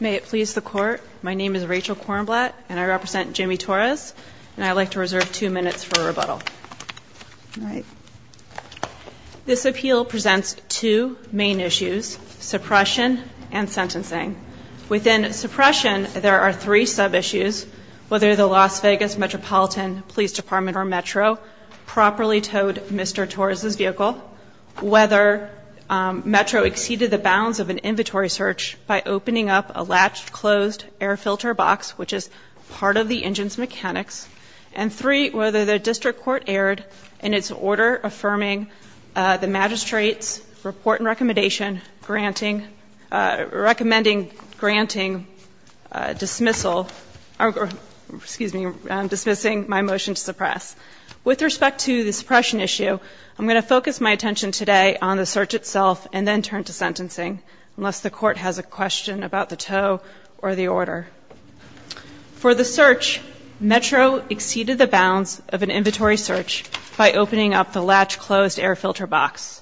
May it please the court, my name is Rachel Kornblatt and I represent Jimmy Torres and I'd like to reserve two minutes for a rebuttal. This appeal presents two main issues, suppression and sentencing. Within suppression, there are three sub-issues, whether the Las Vegas Metropolitan Police Department or Metro properly towed Mr. Torres' vehicle, whether Metro exceeded the bounds of an inventory search by opening up a latched, closed air filter box, which is part of the engine's mechanics, and three, whether the district court erred in its order affirming the magistrate's report and recommendation granting, recommending, granting dismissal, excuse me, dismissing my motion to suppress. With respect to the suppression issue, I'm going to focus my attention today on the search itself and then turn to sentencing, unless the court has a question about the tow or the order. For the search, Metro exceeded the bounds of an inventory search by opening up the latched, closed air filter box.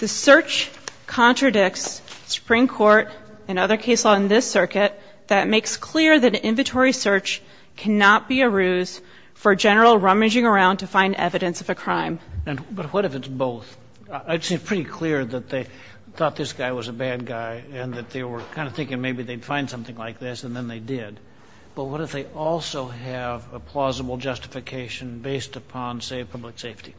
The search contradicts Supreme Court and other case law in this circuit that makes clear that an inventory search cannot be a ruse for a general rummaging around to find evidence of a crime. But what if it's both? I'd say it's pretty clear that they thought this guy was a bad guy and that they were kind of thinking maybe they'd find something like this, and then they did. But what if they also have a plausible justification based upon, say, public safety?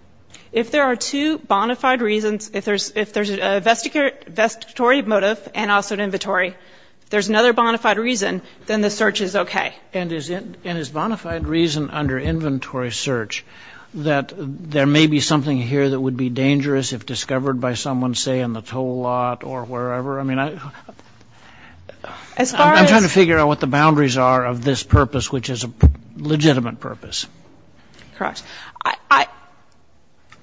If there are two bona fide reasons, if there's a vestigatory motive and also an inventory, if there's another bona fide reason, then the search is okay. And is bona fide reason under inventory search that there may be something here that would be dangerous if discovered by someone, say, in the tow lot or wherever? I mean, I'm trying to figure out what the boundaries are of this purpose, which is a legitimate purpose. Correct.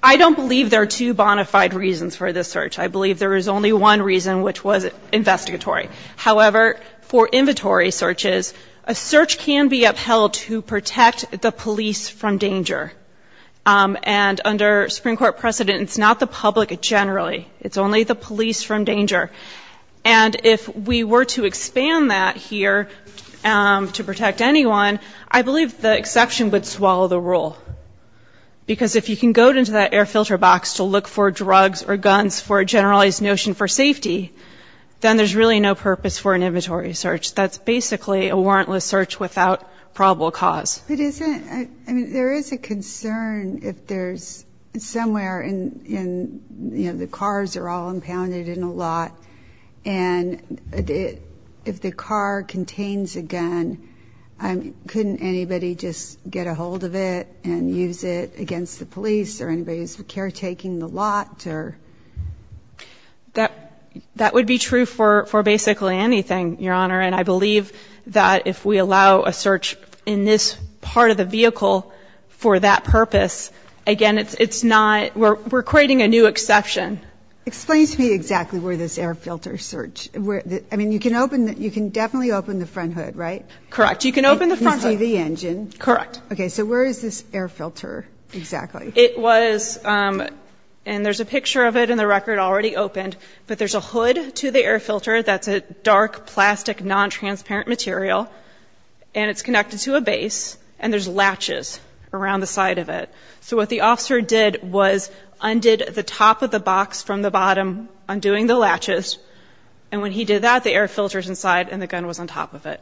I don't believe there are two bona fide reasons for this search. I believe there is only one reason, which was investigatory. However, for inventory searches, a search can be upheld to protect the police from danger. And under Supreme Court precedent, it's not the public generally. It's only the police from danger. And if we were to expand that here to protect anyone, I believe the exception would swallow the rule. Because if you can go into that air filter box to look for drugs or guns for a generalized notion for safety, then there's really no purpose for an inventory search. That's basically a warrantless search without probable cause. But isn't it ‑‑ I mean, there is a concern if there's somewhere in, you know, the cars are all impounded in a lot, and if the car contains a gun, couldn't anybody just get a hold of it and use it against the police or anybody who's caretaking the lot? That would be true for basically anything, Your Honor. And I believe that if we allow a search in this part of the vehicle for that purpose, again, it's not ‑‑ we're creating a new exception. Explain to me exactly where this air filter search ‑‑ I mean, you can definitely open the front hood, right? Correct. You can open the front hood. You can see the engine. Correct. Okay. So where is this air filter exactly? It was ‑‑ and there's a picture of it in the record already opened, but there's a hood to the air filter that's a dark, plastic, nontransparent material, and it's connected to a base, and there's latches around the side of it. So what the officer did was undid the top of the box from the bottom, undoing the latches, and when he did that, the air filter's inside and the gun was on top of it.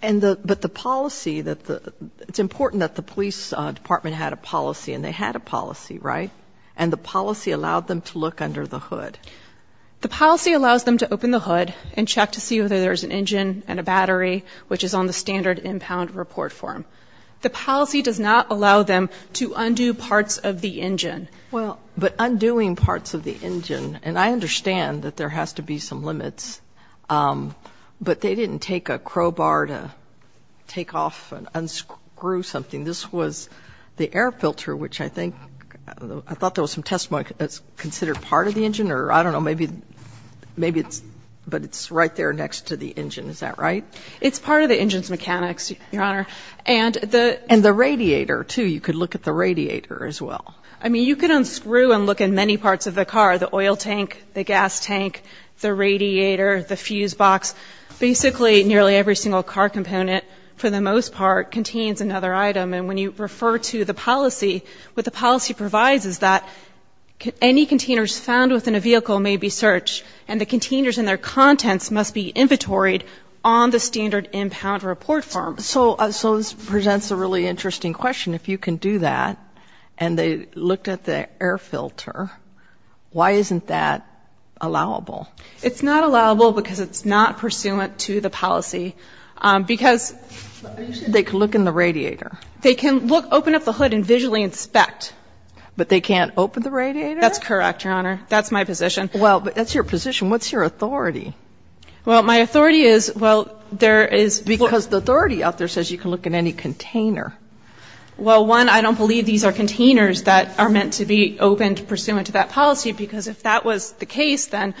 And the ‑‑ but the policy that the ‑‑ it's important that the police department had a policy, and they had a policy, right? And the policy allowed them to look under the hood. The policy allows them to open the hood and check to see whether there's an engine and a battery, which is on the standard impound report form. The policy does not allow them to undo parts of the engine. Well, but undoing parts of the engine, and I understand that there has to be some limits, but they didn't take a crowbar to take off and unscrew something. This was the air filter, which I think ‑‑ I thought there was some testimony that it's considered part of the engine, or I don't know, maybe it's ‑‑ but it's right there next to the engine. Is that right? It's part of the engine's mechanics, Your Honor. And the radiator, too. You could look at the radiator as well. I mean, you could unscrew and look in many parts of the car, the oil tank, the gas tank, the radiator, the fuse box, basically nearly every single car component, for the most part, contains another item. And when you refer to the policy, what the policy provides is that any containers found within a vehicle may be searched, and the containers and their contents must be inventoried on the standard impound report form. So this presents a really interesting question. If you can do that, and they looked at the air filter, why isn't that allowable? It's not allowable because it's not pursuant to the policy. Because they can look in the radiator. They can open up the hood and visually inspect. But they can't open the radiator? That's correct, Your Honor. That's my position. Well, that's your position. What's your authority? Well, my authority is, well, there is ‑‑ Because the authority out there says you can look in any container. Well, one, I don't believe these are containers that are meant to be opened pursuant to that policy because if that was the case, then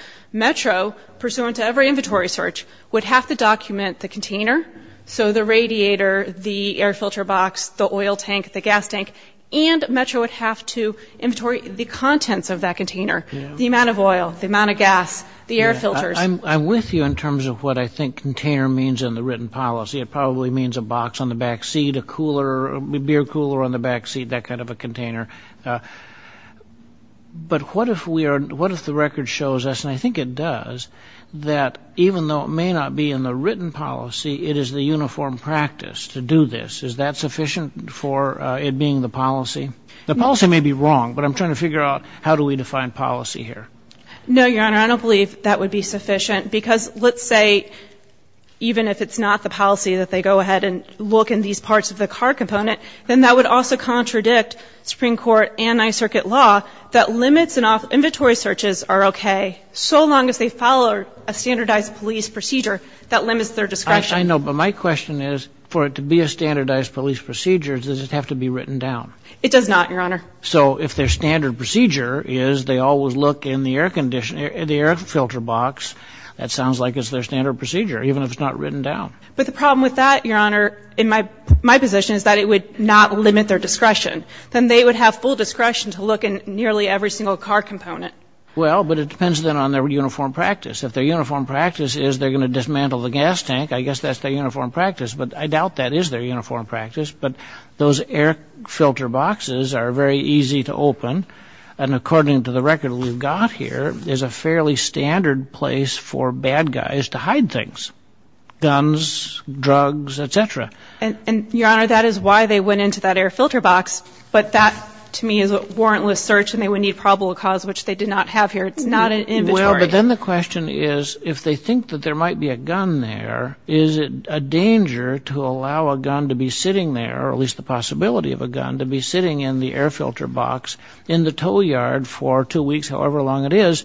Metro, pursuant to every inventory search, would have to document the container, so the radiator, the air filter box, the oil tank, the gas tank, and Metro would have to inventory the contents of that container, the amount of oil, the amount of gas, the air filters. I'm with you in terms of what I think container means in the written policy. It probably means a box on the back seat, a cooler, a beer cooler on the back seat, that kind of a container. But what if we are ‑‑ what if the record shows us, and I think it does, that even though it may not be in the written policy, it is the uniform practice to do this. Is that sufficient for it being the policy? The policy may be wrong, but I'm trying to figure out how do we define policy here. No, Your Honor. I don't believe that would be sufficient. Because let's say even if it's not the policy that they go ahead and look in these parts of the car component, then that would also contradict Supreme Court anti‑circuit law that limits and inventory searches are okay so long as they follow a standardized police procedure that limits their discretion. I know, but my question is for it to be a standardized police procedure, does it have to be written down? It does not, Your Honor. So if their standard procedure is they always look in the air filter box, that sounds like it's their standard procedure, even if it's not written down. But the problem with that, Your Honor, in my position is that it would not limit their discretion. Then they would have full discretion to look in nearly every single car component. Well, but it depends then on their uniform practice. If their uniform practice is they're going to dismantle the gas tank, I guess that's their uniform practice. But I doubt that is their uniform practice. But those air filter boxes are very easy to open, and according to the record we've got here, is a fairly standard place for bad guys to hide things, guns, drugs, et cetera. And, Your Honor, that is why they went into that air filter box. But that, to me, is a warrantless search, and they would need probable cause, which they did not have here. It's not an inventory. Well, but then the question is if they think that there might be a gun there, is it a danger to allow a gun to be sitting there, or at least the possibility of a gun, to be sitting in the air filter box in the tow yard for two weeks, however long it is?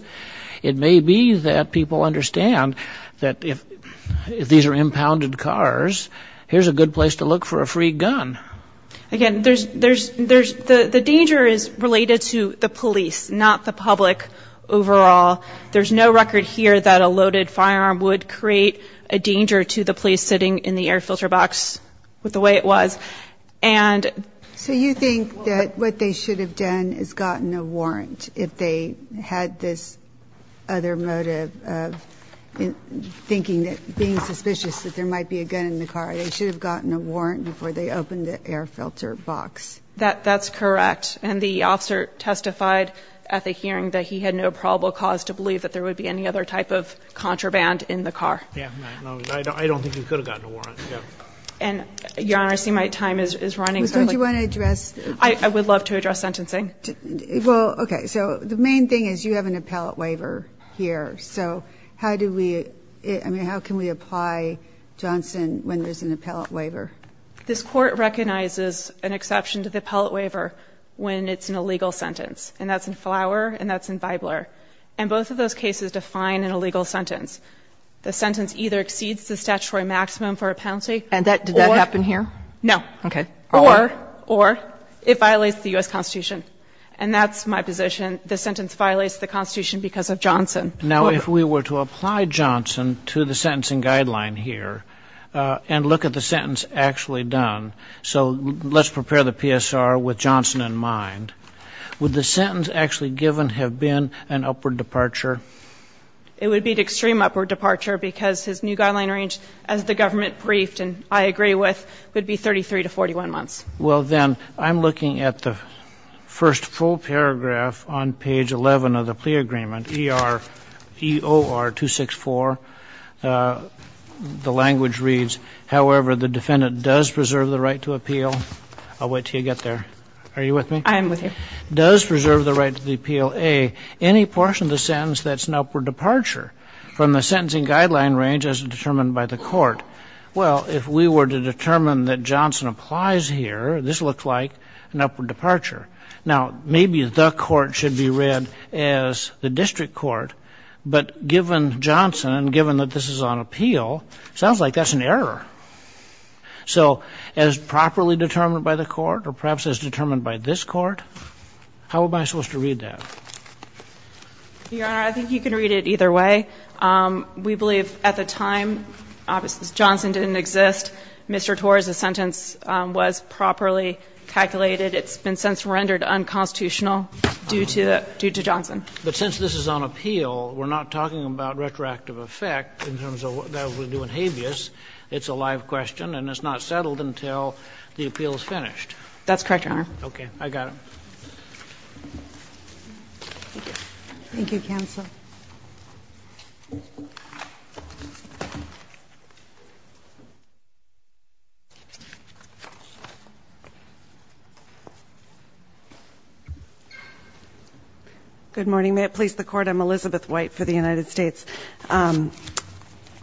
It may be that people understand that if these are impounded cars, here's a good place to look for a free gun. Again, the danger is related to the police, not the public overall. There's no record here that a loaded firearm would create a danger to the police sitting in the air filter box with the way it was. And so you think that what they should have done is gotten a warrant if they had this other motive of thinking that, being suspicious that there might be a gun in the car. They should have gotten a warrant before they opened the air filter box. That's correct. And the officer testified at the hearing that he had no probable cause to believe that there would be any other type of contraband in the car. Yeah. I don't think he could have gotten a warrant, yeah. And, Your Honor, I see my time is running. Don't you want to address? I would love to address sentencing. Well, okay. So the main thing is you have an appellate waiver here. So how do we, I mean, how can we apply Johnson when there's an appellate waiver? This Court recognizes an exception to the appellate waiver when it's an illegal sentence, and that's in Flower and that's in Bibler. And both of those cases define an illegal sentence. The sentence either exceeds the statutory maximum for a penalty or. And did that happen here? No. Okay. Or. Or it violates the U.S. Constitution. And that's my position. The sentence violates the Constitution because of Johnson. Now, if we were to apply Johnson to the sentencing guideline here and look at the sentence actually done. So let's prepare the PSR with Johnson in mind. Would the sentence actually given have been an upward departure? It would be an extreme upward departure because his new guideline range, as the government briefed and I agree with, would be 33 to 41 months. Well, then, I'm looking at the first full paragraph on page 11 of the plea agreement, EOR 264. The language reads, however, the defendant does preserve the right to appeal. I'll wait until you get there. Are you with me? I am with you. Does preserve the right to appeal, A, any portion of the sentence that's an upward departure from the sentencing guideline range as determined by the Court. Well, if we were to determine that Johnson applies here, this looks like an upward departure. Now, maybe the Court should be read as the district court. But given Johnson and given that this is on appeal, it sounds like that's an error. So as properly determined by the Court or perhaps as determined by this Court, how am I supposed to read that? Your Honor, I think you can read it either way. We believe at the time, obviously, Johnson didn't exist. Mr. Torres's sentence was properly calculated. It's been since rendered unconstitutional due to Johnson. But since this is on appeal, we're not talking about retroactive effect in terms of what that would do in habeas. It's a live question and it's not settled until the appeal is finished. That's correct, Your Honor. Okay. Thank you. Thank you, counsel. Thank you. Good morning. May it please the Court, I'm Elizabeth White for the United States.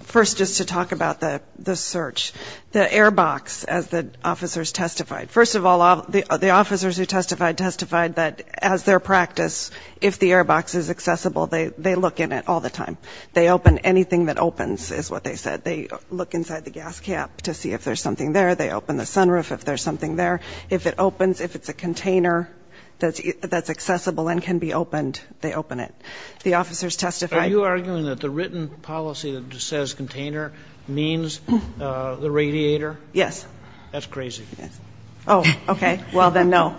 First, just to talk about the search. The airbox, as the officers testified, first of all, the officers who testified testified that as their practice, if the airbox is accessible, they look in it all the time. They open anything that opens, is what they said. They look inside the gas cap to see if there's something there. They open the sunroof if there's something there. If it opens, if it's a container that's accessible and can be opened, they open it. The officers testified. Are you arguing that the written policy that says container means the radiator? Yes. That's crazy. Oh, okay. Well, then, no.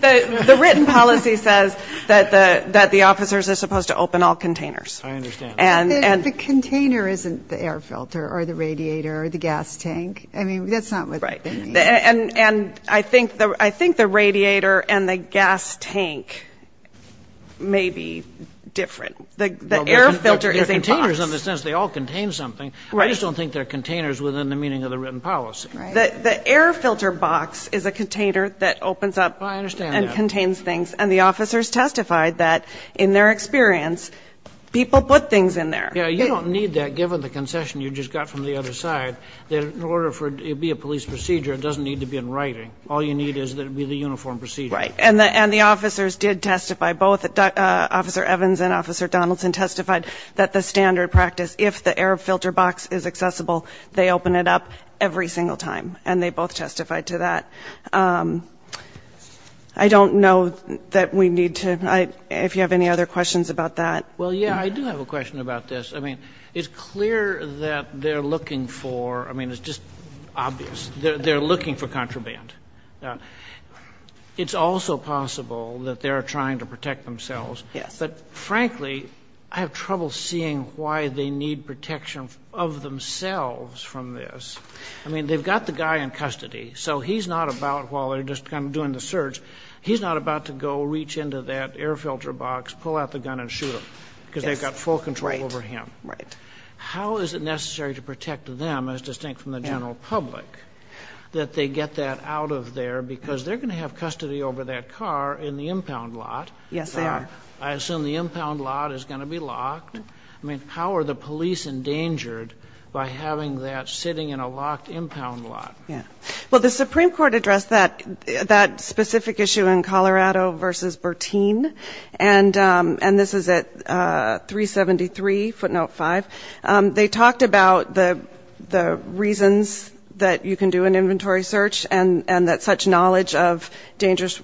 The written policy says that the officers are supposed to open all containers. I understand. And the container isn't the air filter or the radiator or the gas tank. I mean, that's not what they mean. Right. And I think the radiator and the gas tank may be different. The air filter is a box. Well, they're containers in the sense they all contain something. Right. I just don't think they're containers within the meaning of the written policy. Right. The air filter box is a container that opens up. I understand that. And contains things. And the officers testified that, in their experience, people put things in there. Yeah, you don't need that, given the concession you just got from the other side, that in order for it to be a police procedure, it doesn't need to be in writing. All you need is that it be the uniform procedure. Right. And the officers did testify. Both Officer Evans and Officer Donaldson testified that the standard practice, if the air filter box is accessible, they open it up every single time. And they both testified to that. I don't know that we need to – if you have any other questions about that. Well, yeah, I do have a question about this. I mean, it's clear that they're looking for – I mean, it's just obvious. They're looking for contraband. It's also possible that they're trying to protect themselves. Yes. But, frankly, I have trouble seeing why they need protection of themselves from this. I mean, they've got the guy in custody. So he's not about, while they're just kind of doing the search, he's not about to go reach into that air filter box, pull out the gun, and shoot them. Because they've got full control over him. Right. How is it necessary to protect them, as distinct from the general public, that they get that out of there? Because they're going to have custody over that car in the impound lot. Yes, they are. I assume the impound lot is going to be locked. I mean, how are the police endangered by having that sitting in a locked impound lot? Yeah. Well, the Supreme Court addressed that specific issue in Colorado v. Bertine, and this is at 373 footnote 5. They talked about the reasons that you can do an inventory search and that such knowledge of dangerous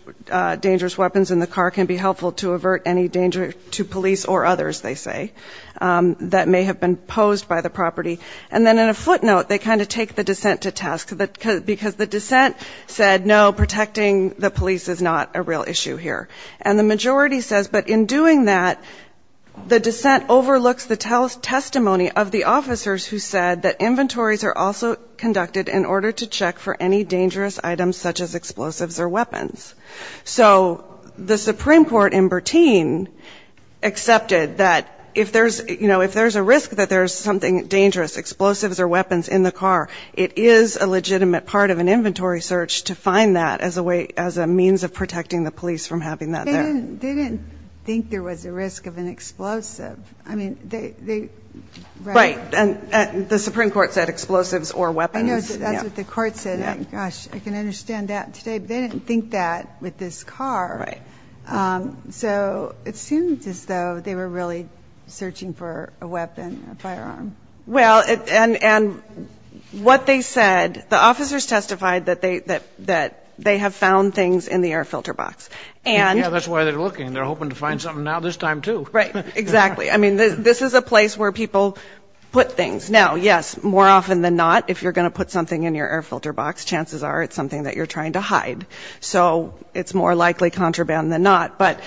weapons in the car can be helpful to avert any danger to police or others, they say, that may have been posed by the property. And then in a footnote, they kind of take the dissent to task, because the dissent said, no, protecting the police is not a real issue here. And the majority says, but in doing that, the dissent overlooks the testimony of the officers who said that inventories are also conducted in order to check for any dangerous items such as explosives or weapons. So the Supreme Court in Bertine accepted that if there's, you know, if there's a risk that there's something dangerous, explosives or weapons in the car, it is a legitimate part of an inventory search to find that as a way, as a means of protecting the police from having that there. They didn't think there was a risk of an explosive. I mean, they... Right, and the Supreme Court said explosives or weapons. I know that's what the court said. Gosh, I can understand that today. But they didn't think that with this car. Right. So it seems as though they were really searching for a weapon, a firearm. Well, and what they said, the officers testified that they have found things in the air filter box. And... Yeah, that's why they're looking. They're hoping to find something now this time, too. Right, exactly. I mean, this is a place where people put things. Now, yes, more often than not, if you're going to put something in your air filter box, chances are it's something that you're trying to hide. So it's more likely contraband than not. But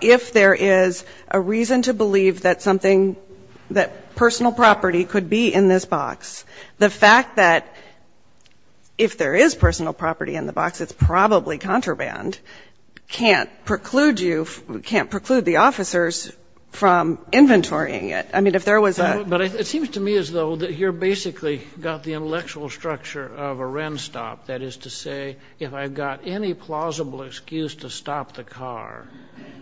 if there is a reason to believe that something, that personal property could be in this box, the fact that if there is personal property in the box, it's probably contraband, can't preclude you, can't preclude the officers from inventorying I mean, if there was a... It seems to me as though that you're basically got the intellectual structure of a Wren stop, that is to say, if I've got any plausible excuse to stop the car,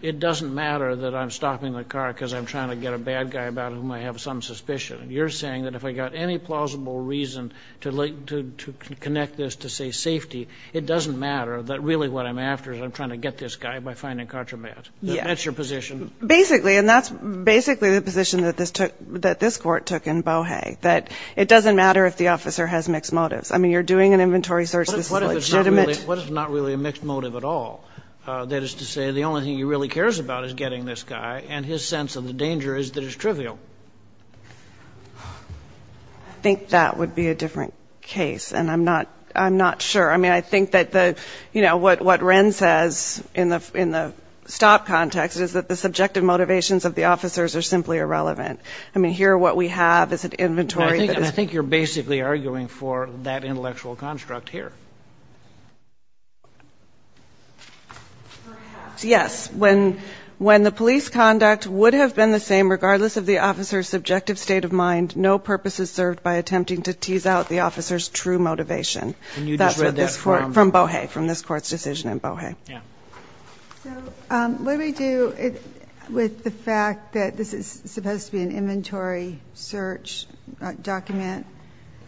it doesn't matter that I'm stopping the car because I'm trying to get a bad guy about whom I have some suspicion. You're saying that if I got any plausible reason to connect this to, say, safety, it doesn't matter that really what I'm after is I'm trying to get this guy by finding contraband. Yeah. That's your position. Basically, and that's basically the position that this took, that this Court took in Bohe, that it doesn't matter if the officer has mixed motives. I mean, you're doing an inventory search. This is legitimate. What if it's not really a mixed motive at all? That is to say, the only thing he really cares about is getting this guy, and his sense of the danger is that it's trivial. I think that would be a different case, and I'm not, I'm not sure. I mean, I think that the, you know, what, what Wren says in the, in the stop context is that the subjective motivations of the officers are simply irrelevant. I mean, here what we have is an inventory that is... I think, I think you're basically arguing for that intellectual construct here. Perhaps, yes. When, when the police conduct would have been the same regardless of the officer's subjective state of mind, no purpose is served by attempting to tease out the officer's true motivation. And you just read that from... From Bohe, from this Court's decision in Bohe. Yeah. So what do we do with the fact that this is supposed to be an inventory search document,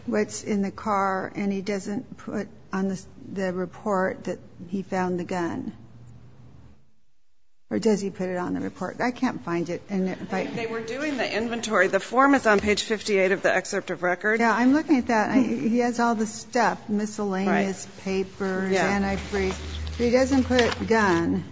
what's in the car, and he doesn't put on the report that he found the gun? Or does he put it on the report? I can't find it. They were doing the inventory. The form is on page 58 of the excerpt of record. Yeah, I'm looking at that. He has all the stuff, miscellaneous papers, antifreeze. But he doesn't put gun.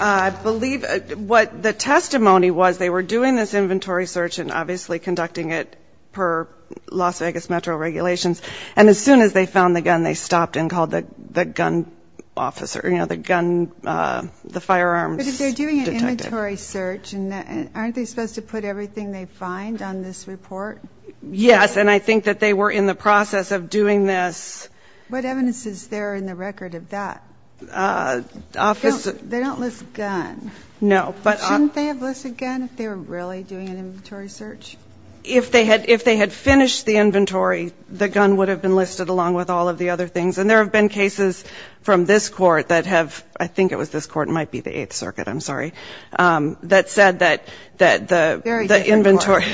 I believe what the testimony was, they were doing this inventory search and obviously conducting it per Las Vegas Metro regulations. And as soon as they found the gun, they stopped and called the gun officer, you know, the gun, the firearms detective. But if they're doing an inventory search, aren't they supposed to put everything they find on this report? Yes. And I think that they were in the process of doing this. What evidence is there in the record of that? They don't list gun. No. But shouldn't they have listed gun if they were really doing an inventory search? If they had finished the inventory, the gun would have been listed along with all of the other things. And there have been cases from this Court that have, I think it was this Court, it might be the Eighth Circuit, I'm sorry, that said that the inventory.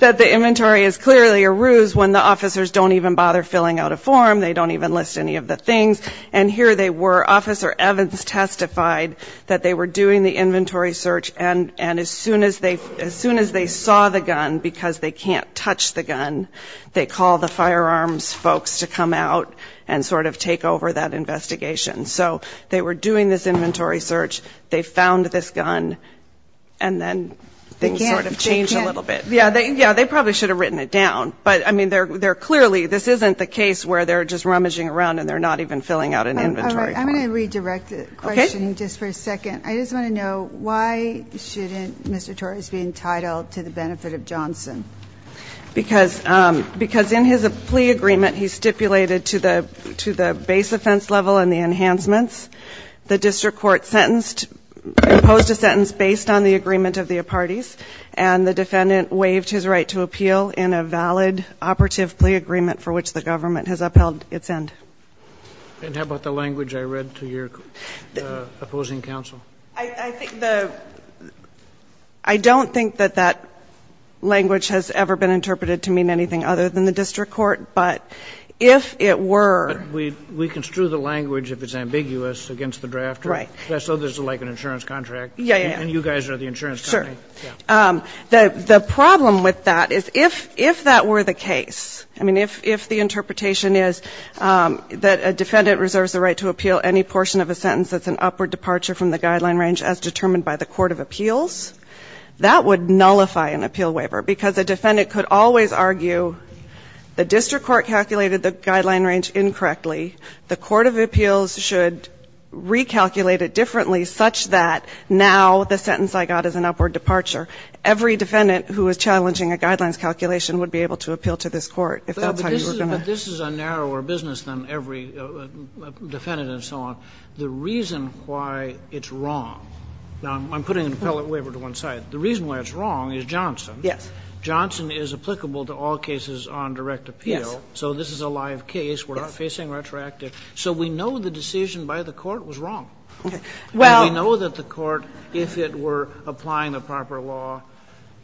That the inventory is clearly a ruse when the officers don't even bother filling out a form. They don't even list any of the things. And here they were. Officer Evans testified that they were doing the inventory search. And as soon as they saw the gun, because they can't touch the gun, they call the firearms folks to come out and sort of take over that investigation. So they were doing this inventory search. They found this gun. And then things sort of changed a little bit. Yeah, they probably should have written it down. But, I mean, they're clearly, this isn't the case where they're just rummaging around and they're not even filling out an inventory form. I'm going to redirect the question just for a second. I just want to know why shouldn't Mr. Torres be entitled to the benefit of Johnson? Because in his plea agreement, he stipulated to the base offense level and the enhancements. The district court sentenced, imposed a sentence based on the agreement of the parties and the defendant waived his right to appeal in a valid operative plea agreement for which the government has upheld its end. And how about the language I read to your opposing counsel? I think the, I don't think that that language has ever been interpreted to mean anything other than the district court. But if it were. But we construe the language, if it's ambiguous, against the drafter. Right. So there's like an insurance contract. Yeah, yeah. And you guys are the insurance company. Sure. The problem with that is if that were the case, I mean, if the interpretation is that a defendant reserves the right to appeal any portion of a sentence that's an upward departure from the guideline range as determined by the court of appeals, that would nullify an appeal waiver. Because a defendant could always argue the district court calculated the guideline range incorrectly. The court of appeals should recalculate it differently, such that now the sentence I got is an upward departure. Every defendant who is challenging a guidelines calculation would be able to appeal to this court, if that's how you were going to. But this is a narrower business than every defendant and so on. The reason why it's wrong, now I'm putting an appellate waiver to one side. The reason why it's wrong is Johnson. Yes. Johnson is applicable to all cases on direct appeal. Yes. So this is a live case. Yes. We're not facing retroactive. So we know the decision by the court was wrong. Okay. Well. And we know that the court, if it were applying the proper law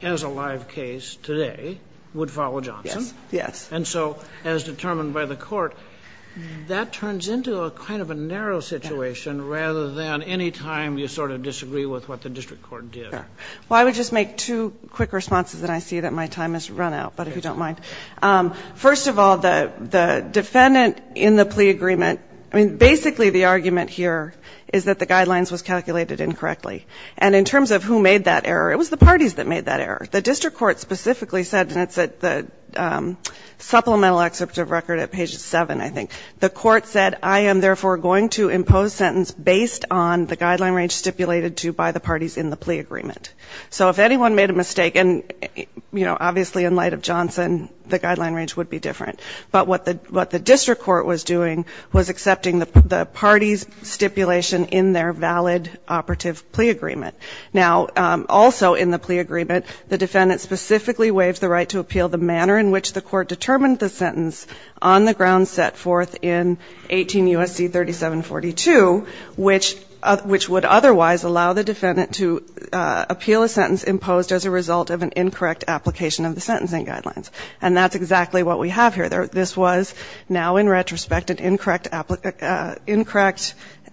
as a live case today, would follow Johnson. Yes. Yes. And so as determined by the court, that turns into a kind of a narrow situation rather than any time you sort of disagree with what the district court did. Well, I would just make two quick responses and I see that my time has run out, but if you don't mind. First of all, the defendant in the plea agreement, I mean, basically the argument here is that the guidelines was calculated incorrectly. And in terms of who made that error, it was the parties that made that error. The district court specifically said, and it's at the supplemental excerpt of record at page 7, I think. The court said, I am therefore going to impose sentence based on the guideline range stipulated to by the parties in the plea agreement. So if anyone made a mistake, and, you know, obviously in light of Johnson, the guideline range would be different. But what the district court was doing was accepting the parties' stipulation in their valid operative plea agreement. Now, also in the plea agreement, the defendant specifically waived the right to appeal the manner in which the court determined the sentence on the ground set forth in 18 U.S.C. 3742, which would otherwise allow the defendant to appeal a sentence imposed as a result of an incorrect application of the sentencing guidelines. And that's exactly what we have here. This was now in retrospect an incorrect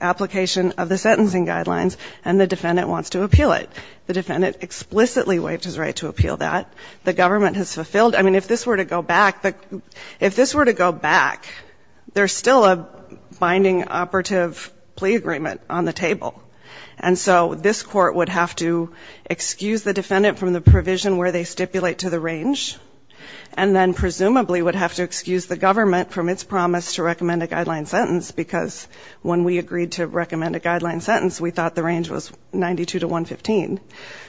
application of the sentencing guidelines, and the defendant wants to appeal it. The defendant explicitly waived his right to appeal that. The government has fulfilled. I mean, if this were to go back, if this were to go back, there's still a binding operative plea agreement on the table. And so this court would have to excuse the defendant from the provision where they stipulate to the range and then presumably would have to excuse the government from its promise to recommend a guideline sentence because when we agreed to recommend a guideline sentence, we thought the range was 92 to 115.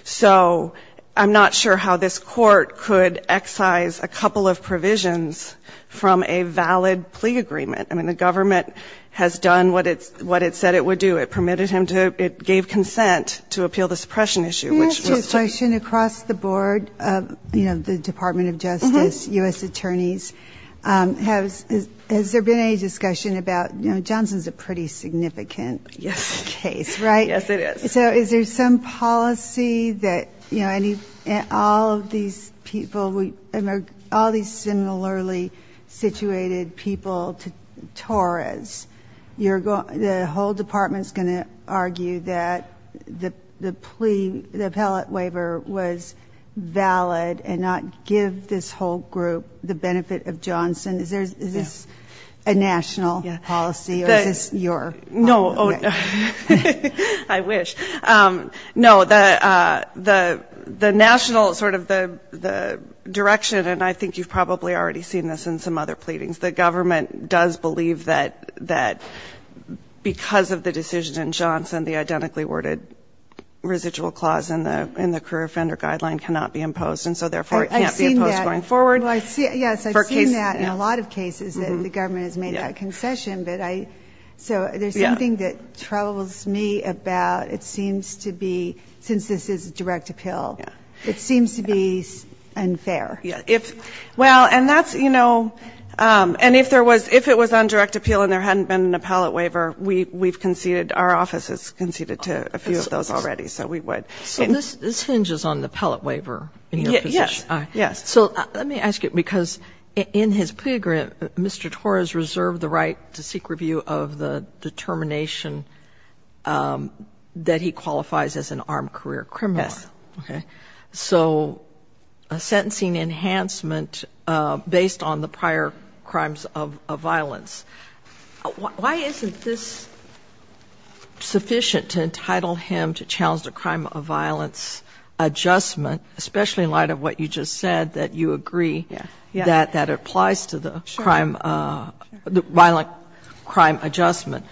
So I'm not sure how this court could excise a couple of provisions from a valid plea agreement. I mean, the government has done what it said it would do. It permitted him to ñ it gave consent to appeal the suppression issue, which was to ñ I have a question across the board of, you know, the Department of Justice, U.S. attorneys. Has there been any discussion about ñ you know, Johnson's a pretty significant case, right? Yes, it is. So is there some policy that, you know, any ñ all of these people, all these similarly situated people to Torres, you're going ñ the whole department is going to argue that the plea, the appellate waiver was valid and not give this whole group the benefit of Johnson? Is this a national policy or is this your policy? No. I wish. No, the national sort of the direction, and I think you've probably already seen this in some other pleadings, the government does believe that because of the decision in Johnson, the identically worded residual clause in the career offender guideline cannot be imposed, and so therefore it can't be imposed going forward. I've seen that. Yes, I've seen that in a lot of cases that the government has made that concession. But I ñ so there's something that troubles me about it seems to be, since this is a direct appeal, it seems to be unfair. Yes. Well, and that's ñ you know, and if there was ñ if it was on direct appeal and there hadn't been an appellate waiver, we've conceded ñ our office has conceded to a few of those already, so we would. So this hinges on the appellate waiver in your position. Yes. Yes. So let me ask you, because in his plea agreement, Mr. Torres reserved the right to seek review of the determination that he qualifies as an armed career criminal. Yes. Okay. So a sentencing enhancement based on the prior crimes of violence. Why isn't this sufficient to entitle him to challenge the crime of violence adjustment, especially in light of what you just said, that you agree that that applies to the crime ñ the violent crime adjustment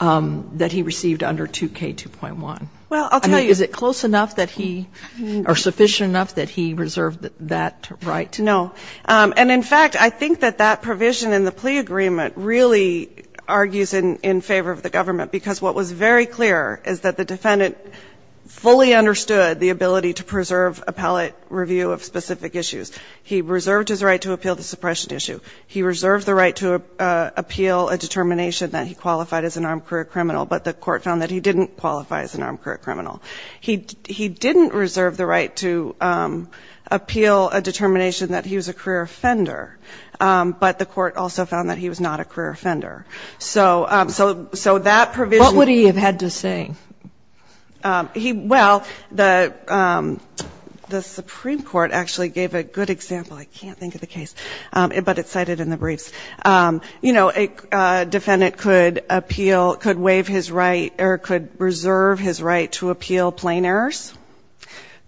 that he received under 2K2.1? Well, I'll tell you ñ I mean, is it close enough that he ñ or sufficient enough that he reserved that right? No. And in fact, I think that that provision in the plea agreement really argues that he had fully understood the ability to preserve appellate review of specific issues. He reserved his right to appeal the suppression issue. He reserved the right to appeal a determination that he qualified as an armed career criminal, but the court found that he didn't qualify as an armed career criminal. He didn't reserve the right to appeal a determination that he was a career offender, but the court also found that he was not a career offender. So that provisionó Well, the Supreme Court actually gave a good example. I can't think of the case, but it's cited in the briefs. You know, a defendant could appeal ñ could waive his right or could reserve his right to appeal plain errors,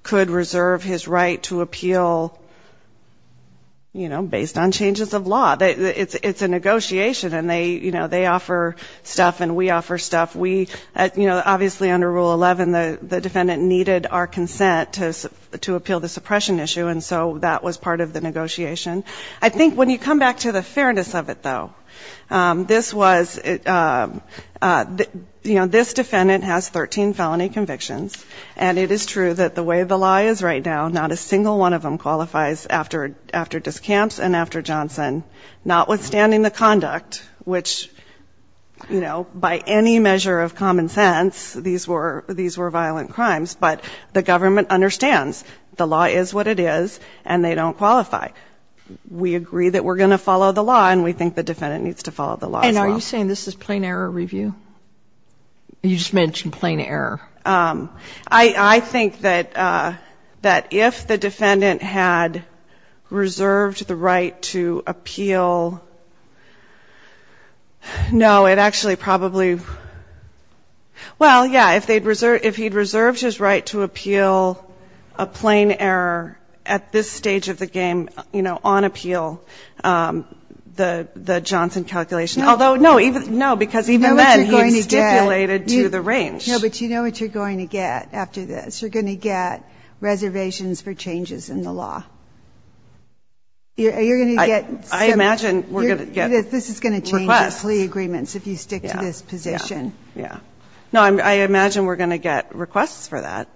could reserve his right to appeal, you know, based on changes of law. It's a negotiation, and they, you know, they offer stuff and we offer stuff. We, you know, obviously under Rule 11, the defendant needed our consent to appeal the suppression issue, and so that was part of the negotiation. I think when you come back to the fairness of it, though, this was, you know, this defendant has 13 felony convictions, and it is true that the way the law is right now, not a single one of them qualifies after discounts and after Johnson, notwithstanding the conduct, which, you know, by any measure of common sense, these were ñ these were violent crimes, but the government understands the law is what it is and they don't qualify. We agree that we're going to follow the law and we think the defendant needs to follow the law as well. And are you saying this is plain error review? You just mentioned plain error. I think that if the defendant had reserved the right to appeal ñ no, it actually probably ñ well, yeah, if theyíd reserved ñ if heíd reserved his right to appeal a plain error at this stage of the game, you know, on appeal, the Johnson calculation, although, no, even ñ no, because even then he stipulated to the range. No, but you know what you're going to get after this? You're going to get reservations for changes in the law. You're going to get some ñ I imagine we're going to get requests. This is going to change the plea agreements if you stick to this position. Yeah, yeah. No, I imagine we're going to get requests for that,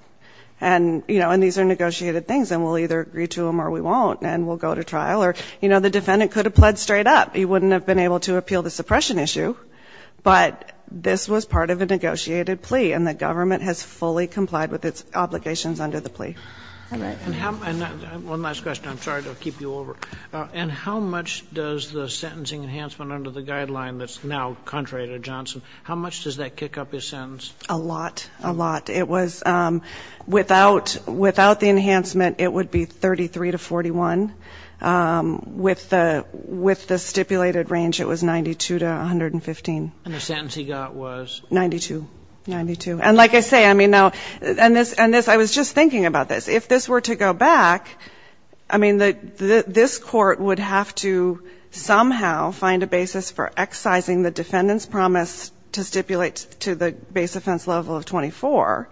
and, you know, and these are negotiated things, and we'll either agree to them or we won't, and we'll go to trial or, you know, the defendant could have pled straight up. You wouldn't have been able to appeal the suppression issue, but this was part of a negotiated plea, and the government has fully complied with its obligations under the plea. All right. And how ñ and one last question. I'm sorry to keep you over. And how much does the sentencing enhancement under the guideline that's now contrary to Johnson, how much does that kick up his sentence? A lot. A lot. It was ñ without the enhancement, it would be 33 to 41. With the stipulated range, it was 92 to 115. And the sentence he got was? 92. 92. And like I say, I mean, now ñ and this ñ I was just thinking about this. If this were to go back, I mean, this Court would have to somehow find a basis for excising the defendant's promise to stipulate to the base offense level of 24,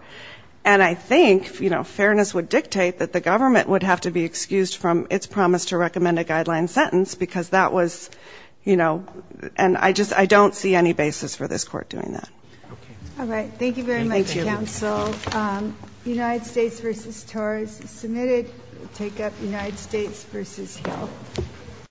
and I think, you know, fairness would dictate that the government would have to be excused from its promise to recommend a guideline sentence because that was, you know ñ and I just ñ I don't see any basis for this Court doing that. Okay. All right. Thank you very much, counsel. And thank you. United States v. Torres is submitted. We'll take up United States v. Hill.